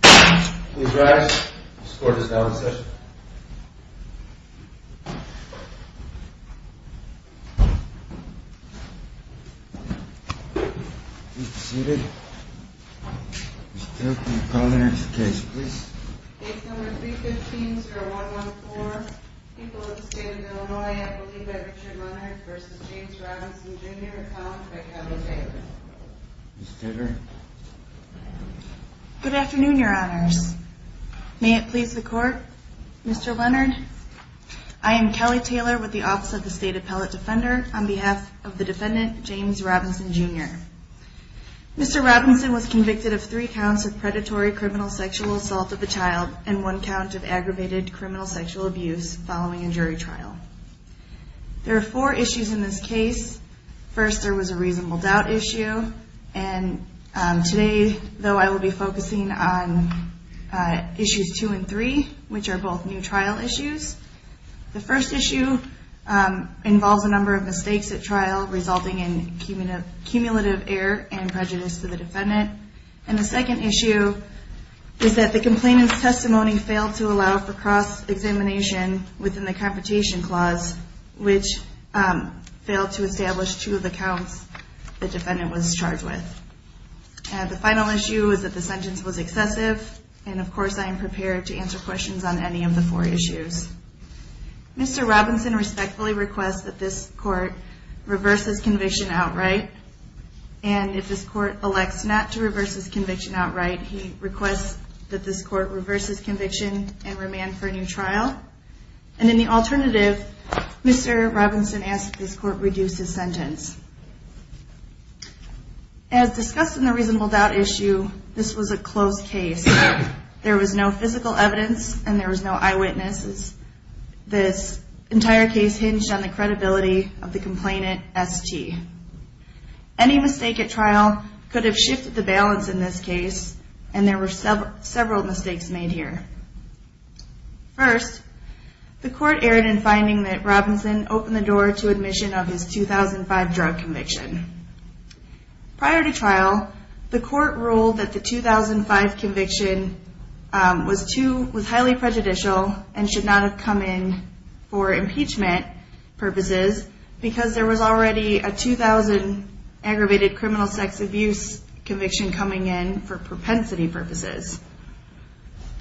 Please rise. This court is now in session. Please be seated. Ms. Taylor, can you call the next case, please? Case number 315-0114. People of the State of Illinois, I believe by Richard Leonard v. James Robinson, Jr., a college by county favor. Ms. Taylor? Good afternoon, Your Honors. May it please the Court, Mr. Leonard? I am Kelly Taylor with the Office of the State Appellate Defender on behalf of the defendant, James Robinson, Jr. Mr. Robinson was convicted of three counts of predatory criminal sexual assault of a child and one count of aggravated criminal sexual abuse following a jury trial. There are four issues in this case. First, there was a reasonable doubt issue. Today, though, I will be focusing on issues 2 and 3, which are both new trial issues. The first issue involves a number of mistakes at trial resulting in cumulative error and prejudice to the defendant. The second issue is that the complainant's testimony failed to allow for cross-examination within the computation clause, which failed to establish two of the counts the defendant was charged with. The final issue is that the sentence was excessive, and of course I am prepared to answer questions on any of the four issues. Mr. Robinson respectfully requests that this Court reverse his conviction outright, and if this Court elects not to reverse his conviction outright, he requests that this Court reverse his conviction and remand for a new trial. And in the alternative, Mr. Robinson asks that this Court reduce his sentence. As discussed in the reasonable doubt issue, this was a closed case. There was no physical evidence and there was no eyewitnesses. This entire case hinged on the credibility of the complainant, S.T. Any mistake at trial could have shifted the balance in this case, and there were several mistakes made here. First, the Court erred in finding that Robinson opened the door to admission of his 2005 drug conviction. Prior to trial, the Court ruled that the 2005 conviction was highly prejudicial and should not have come in for impeachment purposes because there was already a 2000 aggravated criminal sex abuse conviction coming in for propensity purposes.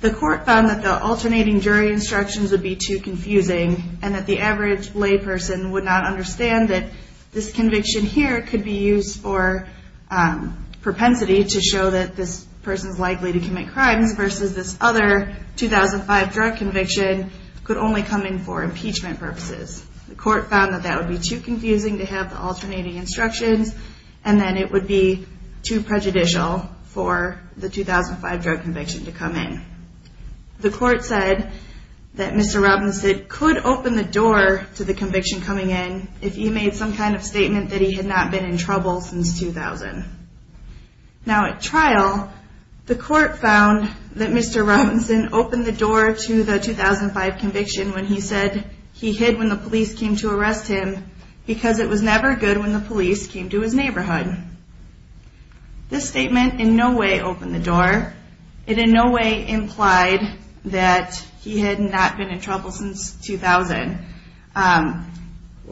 The Court found that the alternating jury instructions would be too confusing and that the average layperson would not understand that this conviction here could be used for propensity to show that this person is likely to commit crimes versus this other 2005 drug conviction could only come in for impeachment purposes. The Court found that that would be too confusing to have the alternating instructions and that it would be too prejudicial for the 2005 drug conviction to come in. The Court said that Mr. Robinson could open the door to the conviction coming in if he made some kind of statement that he had not been in trouble since 2000. Now at trial, the Court found that Mr. Robinson opened the door to the 2005 conviction when he said he hid when the police came to arrest him because it was never good when the police came to his neighborhood. This statement in no way opened the door. It in no way implied that he had not been in trouble since 2000. Let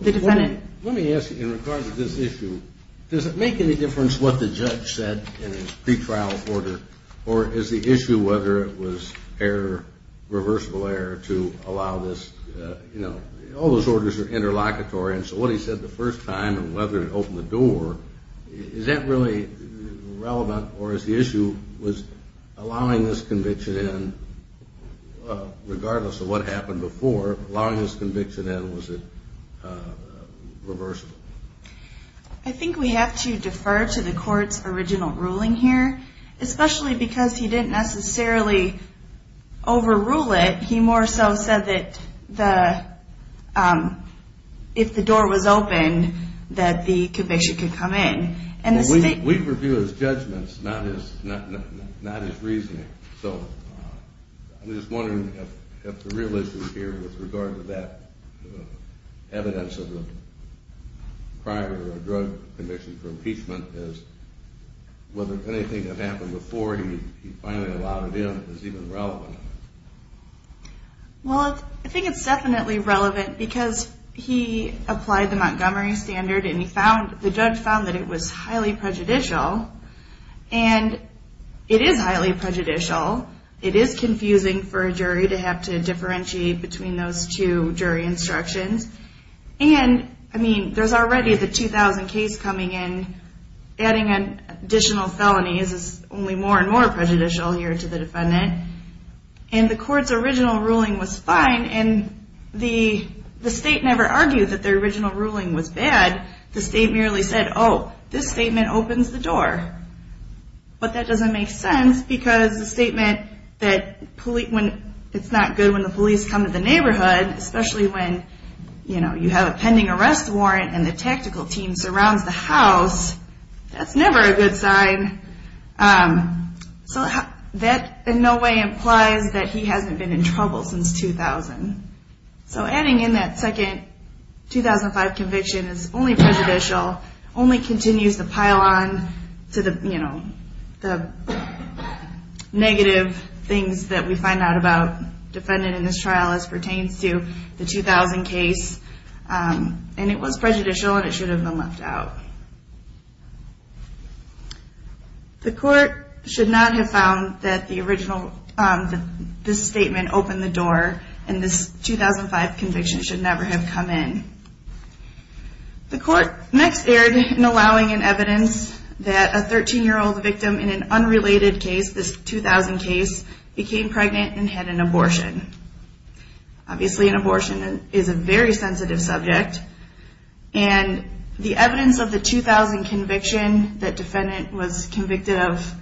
me ask you, in regards to this issue, does it make any difference what the judge said in his pretrial order or is the issue whether it was irreversible error to allow this, you know, all those orders are interlocutory and so what he said the first time and whether it opened the door, is that really relevant or is the issue was allowing this conviction in regardless of what happened before, allowing this conviction in, was it reversible? I think we have to defer to the Court's original ruling here, especially because he didn't necessarily overrule it. He more so said that if the door was open that the conviction could come in. We review his judgments, not his reasoning. So I'm just wondering if the real issue here with regard to that evidence of the prior drug conviction for impeachment is whether anything that happened before he finally allowed it in is even relevant. Well, I think it's definitely relevant because he applied the Montgomery Standard and the judge found that it was highly prejudicial. And it is highly prejudicial. It is confusing for a jury to have to differentiate between those two jury instructions. And, I mean, there's already the 2000 case coming in. Adding additional felonies is only more and more prejudicial here to the defendant. And the Court's original ruling was fine and the state never argued that the original ruling was bad. The state merely said, oh, this statement opens the door. But that doesn't make sense because the statement that it's not good when the police come to the neighborhood, especially when you have a pending arrest warrant and the tactical team surrounds the house. That's never a good sign. So that in no way implies that he hasn't been in trouble since 2000. So adding in that second 2005 conviction is only prejudicial, only continues to pile on to the negative things that we find out about the defendant in this trial as pertains to the 2000 case. And it was prejudicial and it should have been left out. The Court should not have found that this statement opened the door and this 2005 conviction should never have come in. The Court next erred in allowing an evidence that a 13-year-old victim in an unrelated case, became pregnant and had an abortion. Obviously an abortion is a very sensitive subject. And the evidence of the 2000 conviction that defendant was convicted of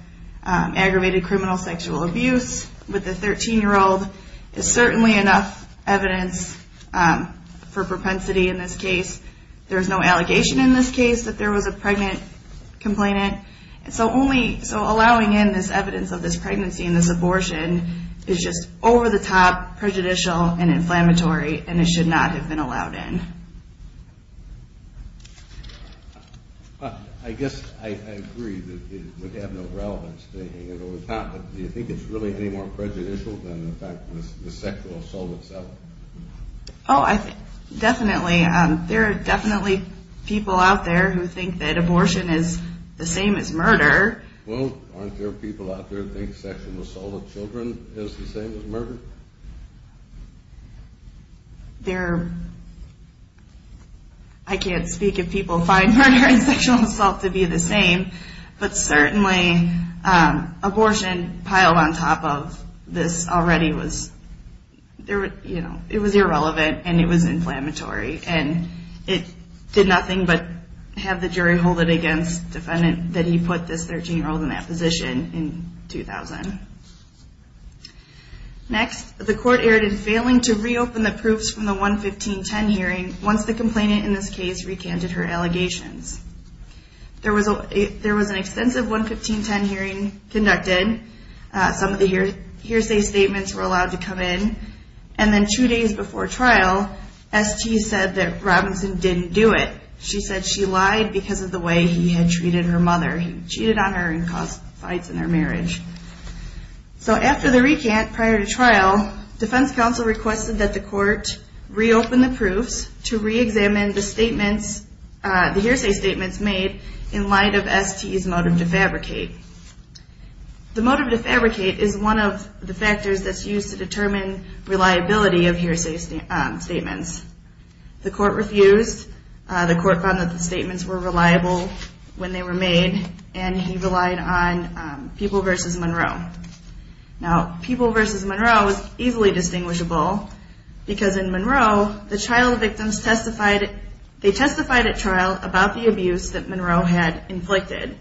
aggravated criminal sexual abuse with a 13-year-old is certainly enough evidence for propensity in this case. There's no allegation in this case that there was a pregnant complainant. So allowing in this evidence of this pregnancy and this abortion is just over-the-top prejudicial and inflammatory and it should not have been allowed in. I guess I agree that it would have no relevance to hang it over the top, but do you think it's really any more prejudicial than the fact of the sexual assault itself? Oh, definitely. There are definitely people out there who think that abortion is the same as murder. Well, aren't there people out there who think sexual assault with children is the same as murder? I can't speak if people find murder and sexual assault to be the same, but certainly abortion piled on top of this already was, you know, it was irrelevant and it was inflammatory and it did nothing but have the jury hold it against the defendant that he put this 13-year-old in that position in 2000. Next, the court erred in failing to reopen the proofs from the 11510 hearing once the complainant in this case recanted her allegations. There was an extensive 11510 hearing conducted. Some of the hearsay statements were allowed to come in, and then two days before trial, ST said that Robinson didn't do it. She said she lied because of the way he had treated her mother. He cheated on her and caused fights in their marriage. So after the recant prior to trial, defense counsel requested that the court reopen the proofs to reexamine the hearsay statements made in light of ST's motive to fabricate. The motive to fabricate is one of the factors that's used to determine reliability of hearsay statements. The court refused. The court found that the statements were reliable when they were made, and he relied on People v. Monroe. Now, People v. Monroe is easily distinguishable because in Monroe, the trial victims testified at trial about the abuse that Monroe had inflicted.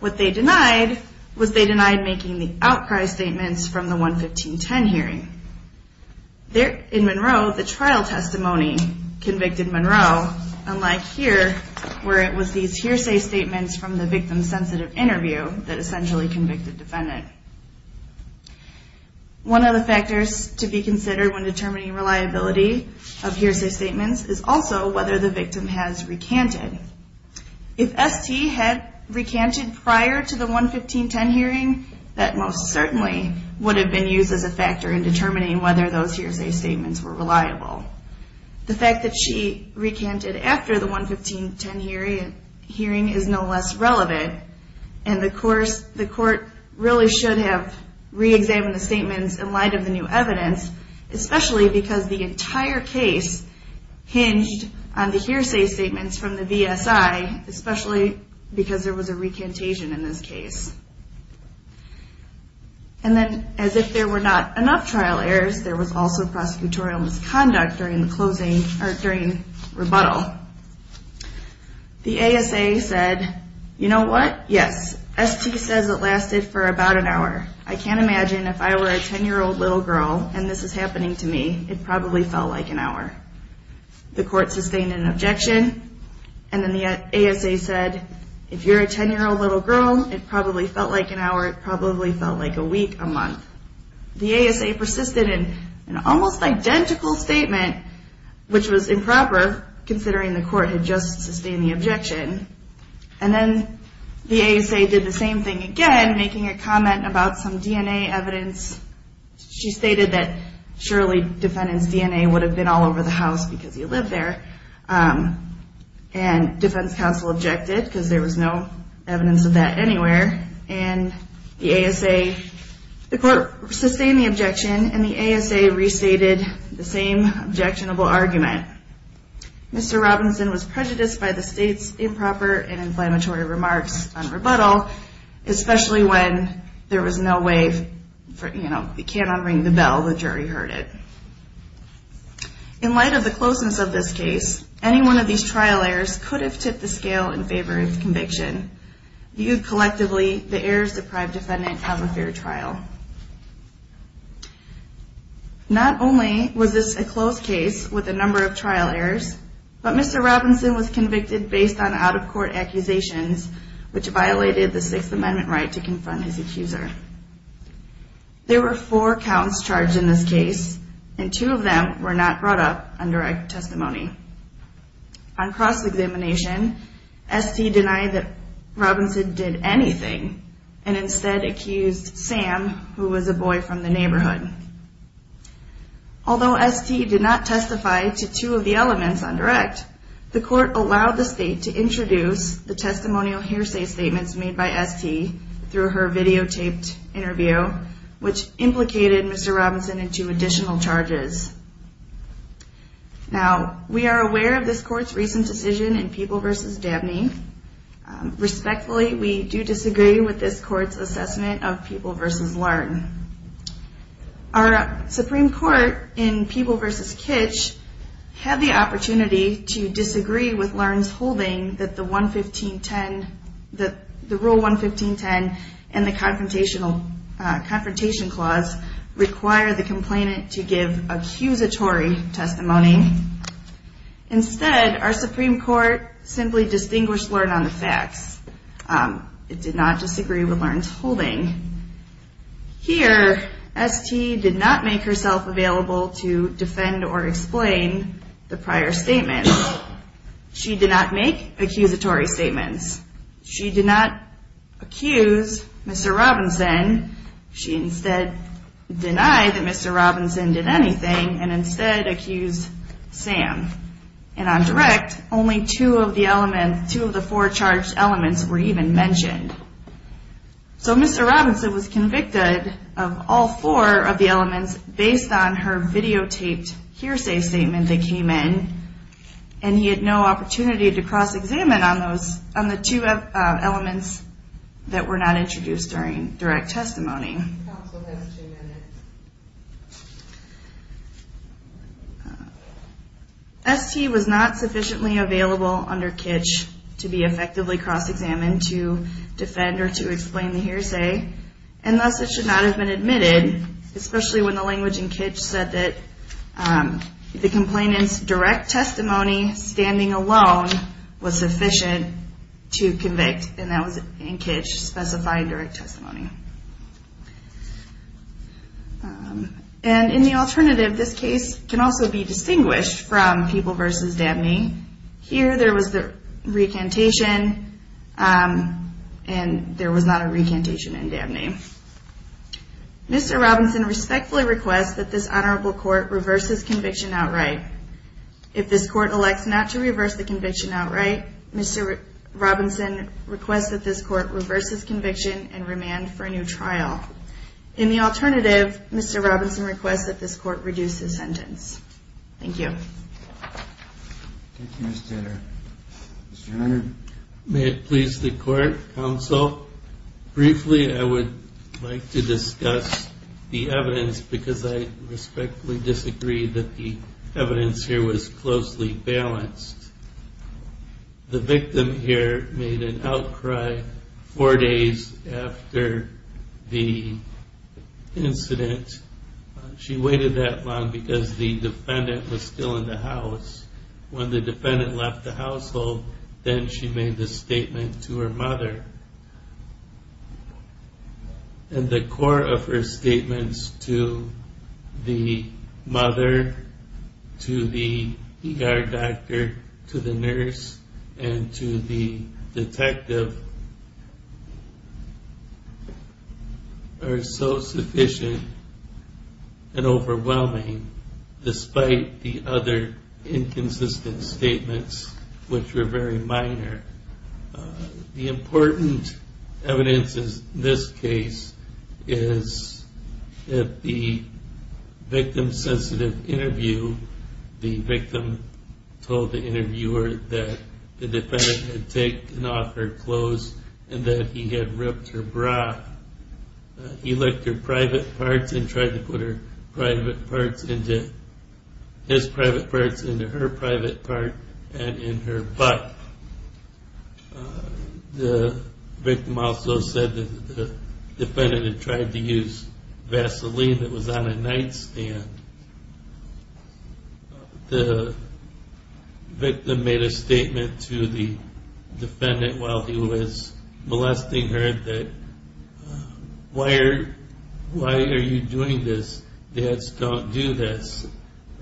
What they denied was they denied making the outcry statements from the 11510 hearing. In Monroe, the trial testimony convicted Monroe, unlike here where it was these hearsay statements from the victim-sensitive interview that essentially convicted defendant. One of the factors to be considered when determining reliability of hearsay statements is also whether the victim has recanted. If ST had recanted prior to the 11510 hearing, that most certainly would have been used as a factor in determining whether those hearsay statements were reliable. The fact that she recanted after the 11510 hearing is no less relevant, and the court really should have reexamined the statements in light of the new evidence, especially because the entire case hinged on the hearsay statements from the VSI, especially because there was a recantation in this case. And then, as if there were not enough trial errors, there was also prosecutorial misconduct during the rebuttal. The ASA said, you know what, yes, ST says it lasted for about an hour. I can't imagine if I were a 10-year-old little girl and this is happening to me, it probably felt like an hour. The court sustained an objection, and then the ASA said, if you're a 10-year-old little girl, it probably felt like an hour, it probably felt like a week, a month. The ASA persisted in an almost identical statement, which was improper, considering the court had just sustained the objection. And then the ASA did the same thing again, making a comment about some DNA evidence. She stated that surely defendant's DNA would have been all over the house because he lived there, and defense counsel objected because there was no evidence of that anywhere. And the ASA, the court sustained the objection, and the ASA restated the same objectionable argument. Mr. Robinson was prejudiced by the state's improper and inflammatory remarks on rebuttal, especially when there was no way, you know, you can't unring the bell, the jury heard it. In light of the closeness of this case, any one of these trial errors could have tipped the scale in favor of conviction. Viewed collectively, the errors deprived defendant of a fair trial. Not only was this a close case with a number of trial errors, but Mr. Robinson was convicted based on out-of-court accusations, which violated the Sixth Amendment right to confront his accuser. There were four counts charged in this case, and two of them were not brought up on direct testimony. On cross-examination, ST denied that Robinson did anything, and instead accused Sam, who was a boy from the neighborhood. Although ST did not testify to two of the elements on direct, the court allowed the state to introduce the testimonial hearsay statements made by ST through her videotaped interview, which implicated Mr. Robinson in two additional charges. Now, we are aware of this court's recent decision in People v. Dabney. Respectfully, we do disagree with this court's assessment of People v. Larn. Our Supreme Court in People v. Kitch had the opportunity to disagree with Larn's holding that the Rule 115.10 and the Confrontation Clause require the complainant to give accusatory testimony. Instead, our Supreme Court simply distinguished Larn on the facts. Here, ST did not make herself available to defend or explain the prior statements. She did not make accusatory statements. She did not accuse Mr. Robinson. She instead denied that Mr. Robinson did anything, and instead accused Sam. And on direct, only two of the four charged elements were even mentioned. So Mr. Robinson was convicted of all four of the elements based on her videotaped hearsay statement that came in, and he had no opportunity to cross-examine on the two elements that were not introduced during direct testimony. ST was not sufficiently available under Kitch to be effectively cross-examined to defend or to explain the hearsay, and thus it should not have been admitted, especially when the language in Kitch said that the complainant's direct testimony standing alone was sufficient to convict. And that was, in Kitch, specified direct testimony. And in the alternative, this case can also be distinguished from People v. Dabney. Here, there was the recantation, and there was not a recantation in Dabney. Mr. Robinson respectfully requests that this Honorable Court reverse his conviction outright. If this Court elects not to reverse the conviction outright, Mr. Robinson requests that this Court reverse his conviction and remand for a new trial. In the alternative, Mr. Robinson requests that this Court reduce his sentence. Thank you. Thank you, Ms. Tanner. Mr. Hunter? May it please the Court, Counsel? Briefly, I would like to discuss the evidence because I respectfully disagree that the evidence here was closely balanced. The victim here made an outcry four days after the incident. She waited that long because the defendant was still in the house. When the defendant left the household, then she made the statement to her mother. And the core of her statements to the mother, to the ER doctor, to the nurse, and to the detective are so sufficient and overwhelming, despite the other inconsistent statements, which were very minor. The important evidence in this case is that the victim-sensitive interview, the victim told the interviewer that the defendant had taken off her clothes and that he had ripped her bra. He licked her private parts and tried to put his private parts into her private part and in her butt. The victim also said that the defendant had tried to use Vaseline that was on a nightstand. The victim made a statement to the defendant while he was molesting her, that, why are you doing this? Dads don't do this.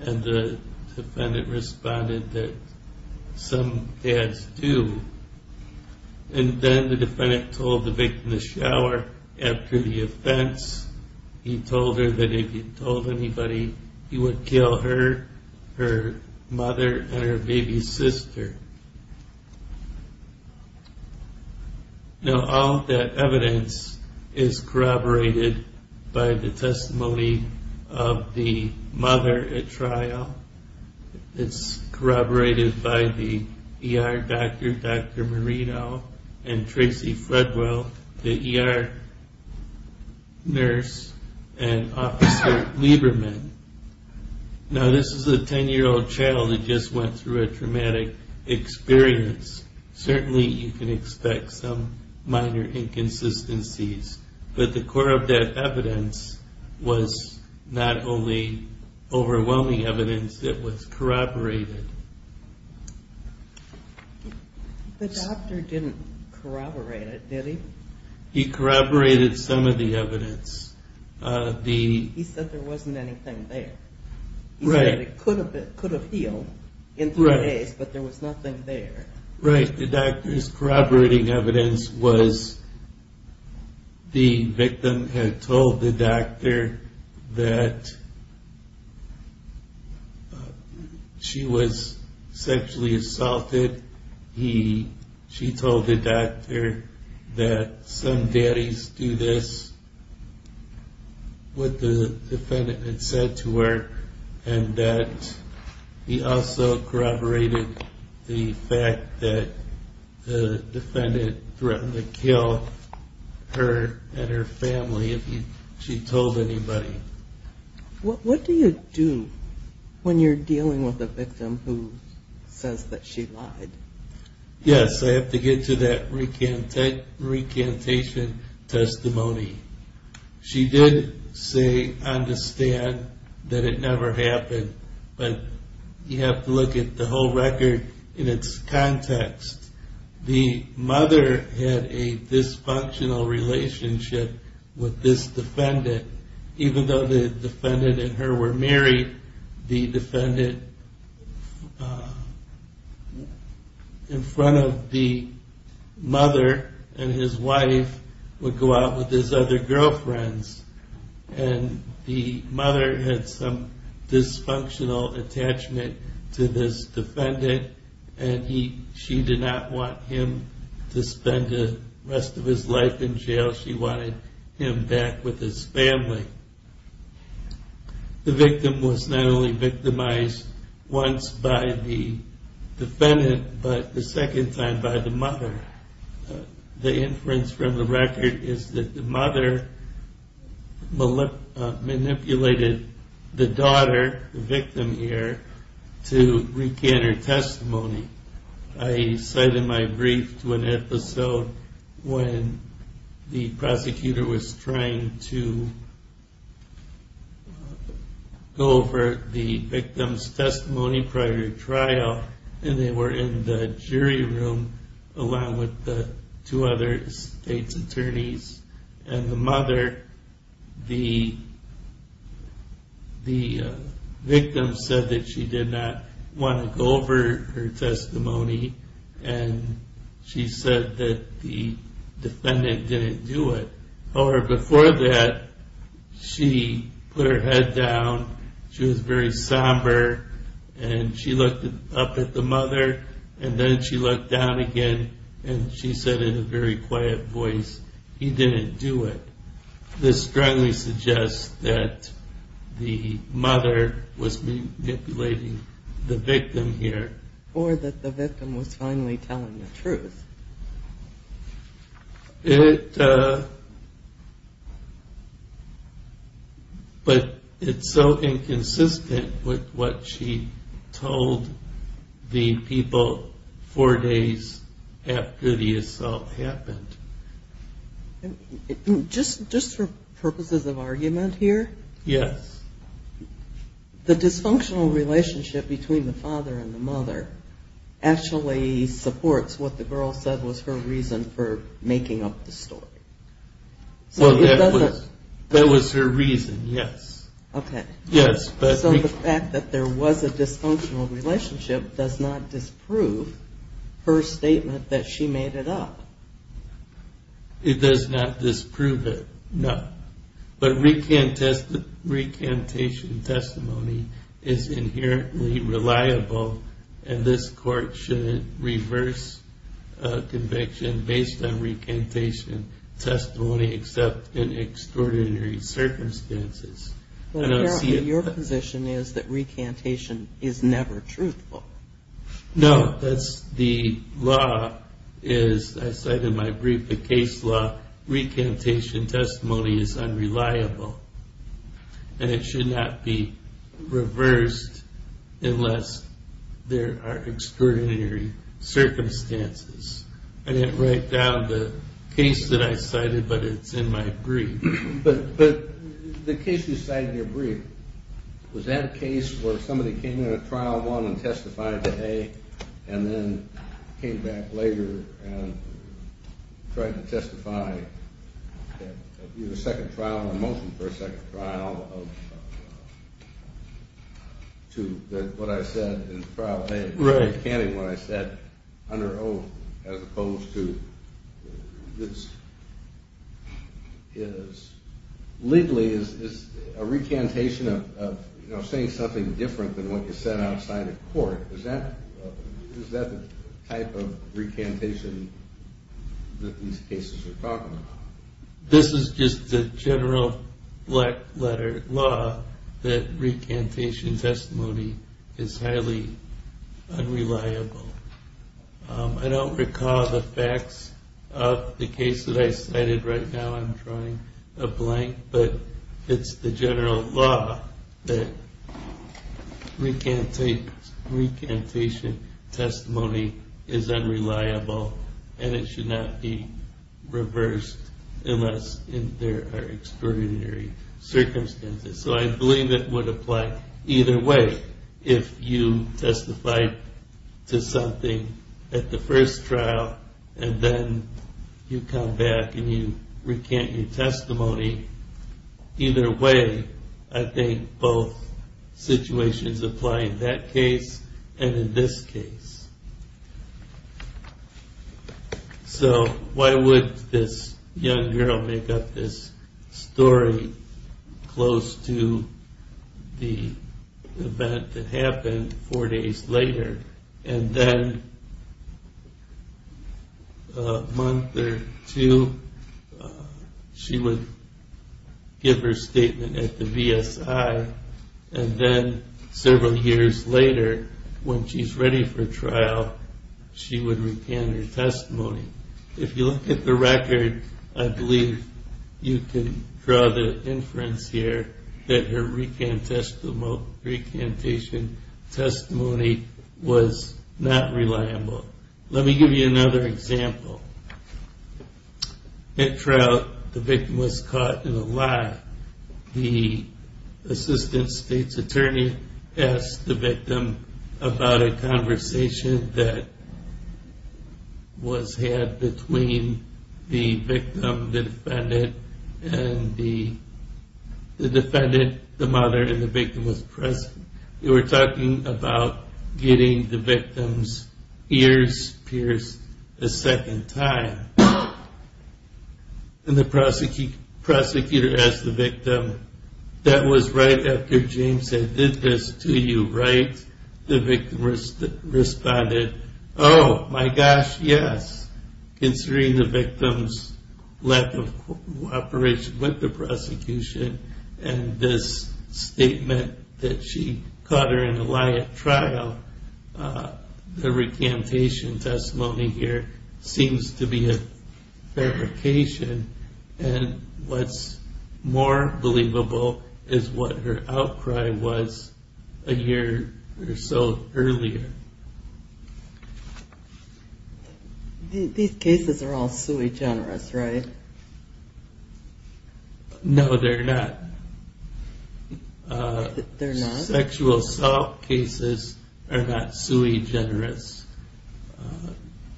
And the defendant responded that some dads do. And then the defendant told the victim to shower after the offense. He told her that if he told anybody, he would kill her, her mother, and her baby sister. Now all of that evidence is corroborated by the testimony of the mother at trial. It's corroborated by the ER doctor, Dr. Marino, and Tracy Fredwell, the ER nurse and Officer Lieberman. Now this is a 10-year-old child who just went through a traumatic experience. Certainly you can expect some minor inconsistencies, but the core of that evidence was not only overwhelming evidence, it was corroborated. The doctor didn't corroborate it, did he? He corroborated some of the evidence. He said there wasn't anything there. He said it could have healed in three days, but there was nothing there. Right, the doctor's corroborating evidence was, the victim had told the doctor that she was sexually assaulted. She told the doctor that some daddies do this, what the defendant had said to her, and that he also corroborated the fact that the defendant threatened to kill her and her family if she told anybody. What do you do when you're dealing with a victim who says that she lied? Yes, I have to get to that recantation testimony. She did say, understand, that it never happened, but you have to look at the whole record in its context. The mother had a dysfunctional relationship with this defendant. Even though the defendant and her were married, the defendant, in front of the mother and his wife, would go out with his other girlfriends. And the mother had some dysfunctional attachment to this defendant, and she did not want him to spend the rest of his life in jail. She wanted him back with his family. The victim was not only victimized once by the defendant, but the second time by the mother. The inference from the record is that the mother manipulated the daughter, the victim here, I cited my brief to an episode when the prosecutor was trying to go over the victim's testimony prior to trial, and they were in the jury room along with the two other state's attorneys. And the mother, the victim said that she did not want to go over her testimony, and she said that the defendant didn't do it. However, before that, she put her head down, she was very somber, and she looked up at the mother, and then she looked down again, and she said in a very quiet voice, he didn't do it. This strongly suggests that the mother was manipulating the victim here. Or that the victim was finally telling the truth. But it's so inconsistent with what she told the people four days after the assault happened. Just for purposes of argument here. Yes. The dysfunctional relationship between the father and the mother actually supports what the girl said was her reason for making up the story. That was her reason, yes. So the fact that there was a dysfunctional relationship does not disprove her statement that she made it up. It does not disprove it, no. But recantation testimony is inherently reliable, and this court shouldn't reverse a conviction based on recantation testimony except in extraordinary circumstances. Your position is that recantation is never truthful. No, that's the law. As I said in my brief, the case law, recantation testimony is unreliable, and it should not be reversed unless there are extraordinary circumstances. I didn't write down the case that I cited, but it's in my brief. But the case you cited in your brief, was that a case where somebody came in at trial one and testified to A and then came back later and tried to testify in a second trial, a motion for a second trial to what I said in trial A, recanting what I said under oath as opposed to this? Legally, is a recantation of saying something different than what you said outside of court, is that the type of recantation that these cases are talking about? This is just the general black letter law that recantation testimony is highly unreliable. I don't recall the facts of the case that I cited right now. I'm drawing a blank. But it's the general law that recantation testimony is unreliable, and it should not be reversed unless there are extraordinary circumstances. So I believe it would apply either way if you testified to something at the first trial and then you come back and you recant your testimony. Either way, I think both situations apply in that case and in this case. So why would this young girl make up this story close to the event that happened four days later and then a month or two she would give her statement at the VSI and then several years later when she's ready for trial, she would recant her testimony. If you look at the record, I believe you can draw the inference here that her recantation testimony was not reliable. Let me give you another example. At trial, the victim was caught in a lie. The assistant state's attorney asked the victim about a conversation that was had between the victim, the defendant, and the mother, and the victim was present. They were talking about getting the victim's ears pierced a second time. And the prosecutor asked the victim, that was right after James had did this to you, right? The victim responded, oh, my gosh, yes, considering the victim's lack of cooperation with the prosecution and this statement that she caught her in a lie at trial. The recantation testimony here seems to be a fabrication and what's more believable is what her outcry was a year or so earlier. These cases are all sui generis, right? No, they're not. They're not? Sexual assault cases are not sui generis.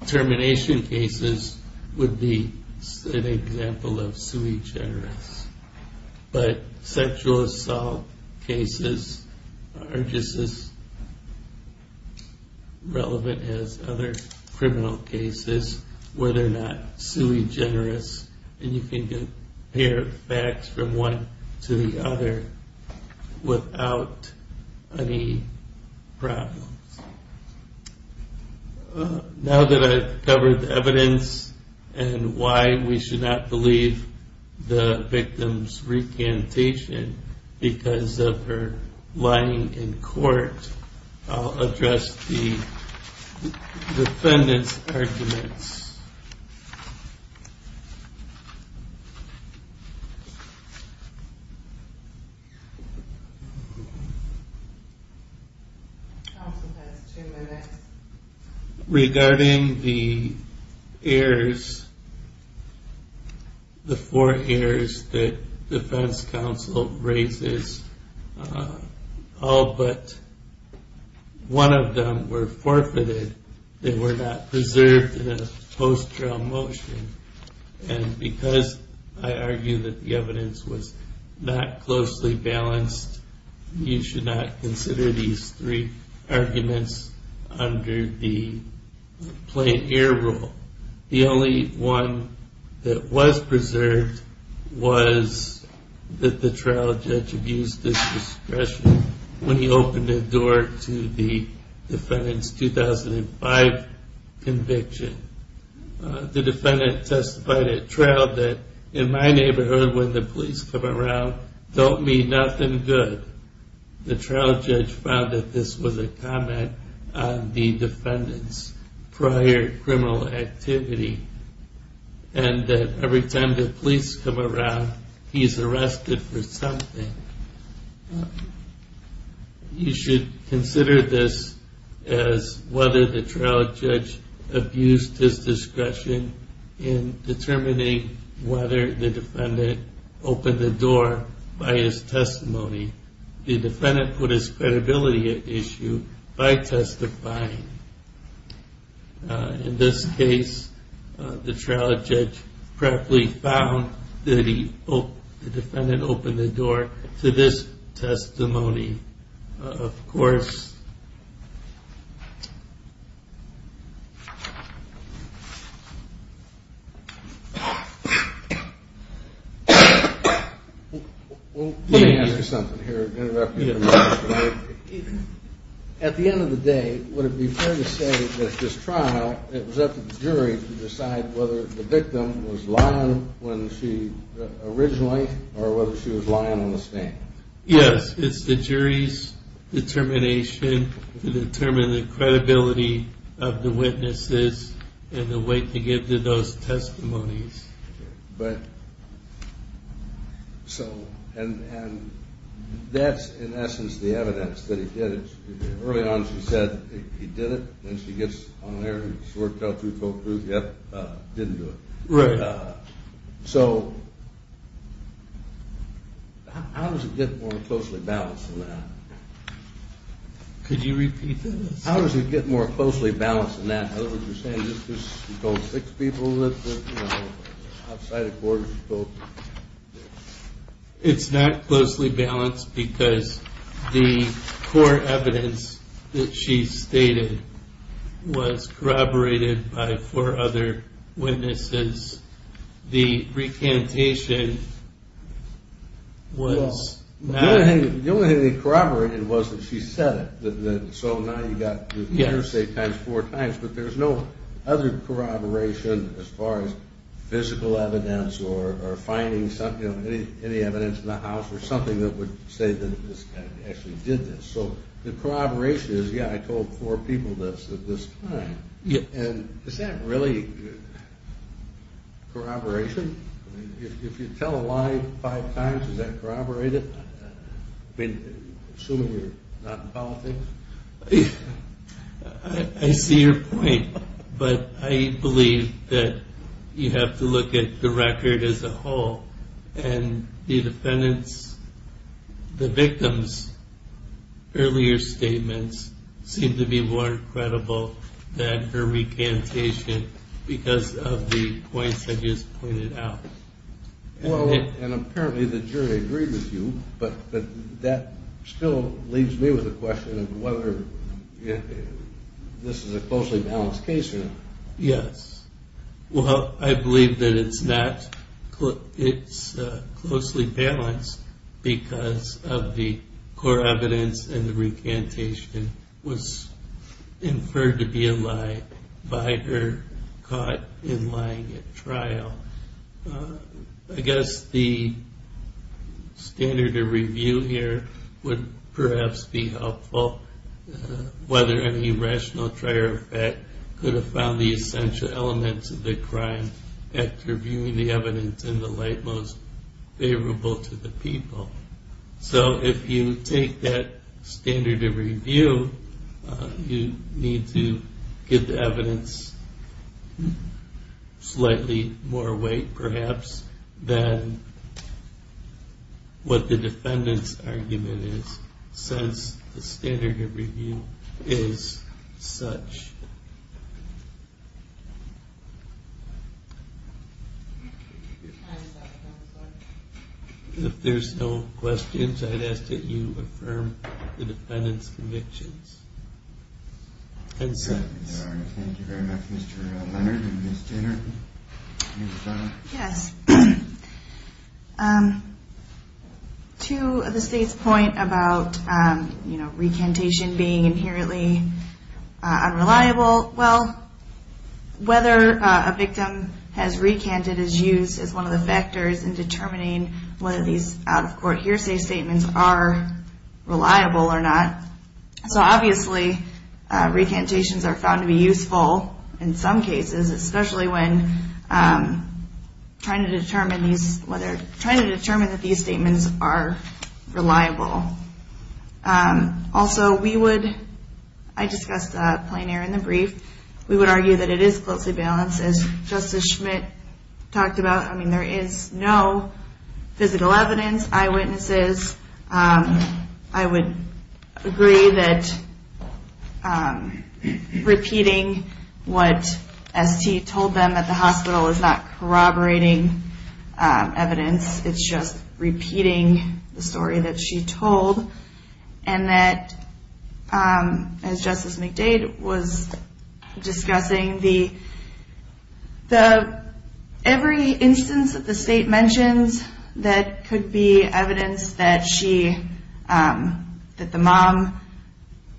Termination cases would be an example of sui generis, but sexual assault cases are just as relevant as other criminal cases where they're not sui generis and you can compare facts from one to the other without any problems. Now that I've covered the evidence and why we should not believe the victim's recantation because of her lying in court, I'll address the defendant's arguments. Thank you. Counsel has two minutes. Regarding the heirs, the four heirs that defense counsel raises, all but one of them were forfeited. They were not preserved in a post-trial motion and because I argue that the evidence was not closely balanced, you should not consider these three arguments under the plain heir rule. The only one that was preserved was that the trial judge abused his discretion when he opened the door to the defendant's 2005 conviction. The defendant testified at trial that in my neighborhood when the police come around, don't mean nothing good. The trial judge found that this was a comment on the defendant's prior criminal activity and that every time the police come around, he's arrested for something. You should consider this as whether the trial judge abused his discretion in determining whether the defendant opened the door by his testimony. The defendant put his credibility at issue by testifying. In this case, the trial judge correctly found that the defendant opened the door to this testimony, of course. Let me ask you something here. At the end of the day, would it be fair to say that this trial, it was up to the jury to decide whether the victim was lying when she, originally, or whether she was lying on the stand. Yes, it's the jury's determination to determine the credibility of the witnesses and the weight to give to those testimonies. But, so, and that's, in essence, the evidence that he did it. Early on, she said he did it, and she gets on there, and she worked out two full proofs, yep, didn't do it. Right. So, how does it get more closely balanced than that? Could you repeat this? How does it get more closely balanced than that? In other words, you're saying this is, you told six people that, you know, outside the court, you told... It's not closely balanced because the core evidence that she stated was corroborated by four other witnesses. The recantation was not... The only thing they corroborated was that she said it, so now you've got the interstate times four times, but there's no other corroboration as far as physical evidence or finding any evidence in the house or something that would say that this guy actually did this. So the corroboration is, yeah, I told four people this at this time, and is that really corroboration? I mean, if you tell a lie five times, is that corroborated? I mean, assuming you're not in politics? I see your point, but I believe that you have to look at the record as a whole, and the defendant's, the victim's earlier statements seem to be more credible than her recantation because of the points I just pointed out. Well, and apparently the jury agreed with you, but that still leaves me with a question of whether this is a closely balanced case or not. Yes. Well, I believe that it's not. It's closely balanced because of the core evidence and the recantation was inferred to be a lie by her caught in lying at trial. I guess the standard of review here would perhaps be helpful, whether any rational trier of fact could have found the essential elements of the crime after viewing the evidence in the light most favorable to the people. So if you take that standard of review, you need to give the evidence slightly more weight, perhaps, than what the defendant's argument is, since the standard of review is such. If there's no questions, I'd ask that you affirm the defendant's convictions and sentence. Thank you very much, Mr. Leonard and Ms. Jenner. Yes. To the state's point about recantation being inherently unreliable, well, whether a victim has recanted is used as one of the factors in determining whether these out-of-court hearsay statements are reliable or not. So obviously, recantations are found to be useful in some cases, especially when trying to determine that these statements are reliable. Also, I discussed plein air in the brief. We would argue that it is closely balanced. As Justice Schmidt talked about, I mean, there is no physical evidence, eyewitnesses. I would agree that repeating what ST told them at the hospital is not corroborating evidence. It's just repeating the story that she told, and that, as Justice McDade was discussing, every instance that the state mentions that could be evidence that the mom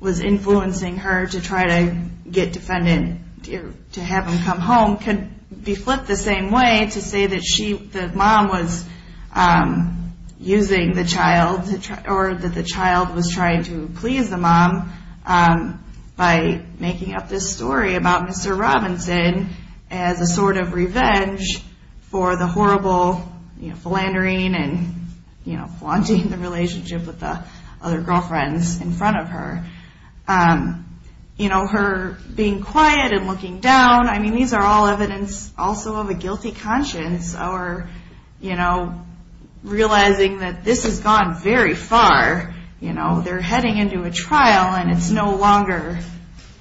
was influencing her to try to get defendant to have him come home could be flipped the same way to say that the mom was trying to please the mom by making up this story about Mr. Robinson as a sort of revenge for the horrible philandering and flaunting the relationship with the other girlfriends in front of her. Her being quiet and looking down, I mean, these are all evidence also of a guilty conscience or realizing that this has gone very far. They're heading into a trial, and it's no longer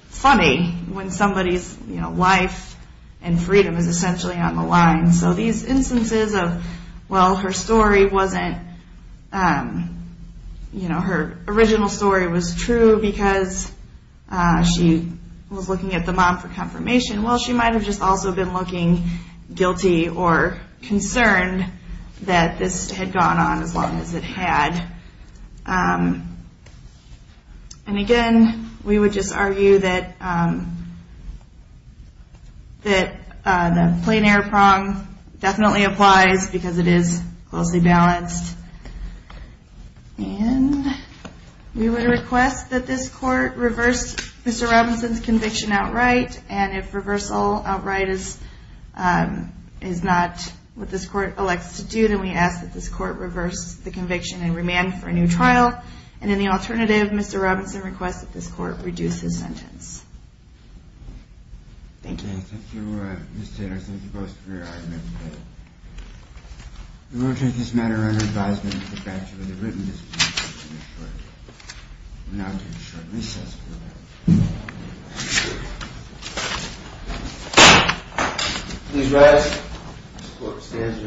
funny when somebody's life and freedom is essentially on the line. So these instances of, well, her story wasn't, her original story was true because she was looking at the mom for confirmation. Well, she might have just also been looking guilty or concerned that this had gone on as long as it had. And again, we would just argue that the plein air prong definitely applies because it is closely balanced. And we would request that this court reverse Mr. Robinson's conviction outright, and if reversal outright is not what this court elects to do, then we ask that this court reverse the conviction and remand for a new trial. And in the alternative, Mr. Robinson requests that this court reduce his sentence. Thank you. Thank you, Ms. Taylor. Thank you both for your arguments. We will take this matter under advisement of the bachelor of the written discipline. We will now take a short recess. Please rise. This court stands recessed.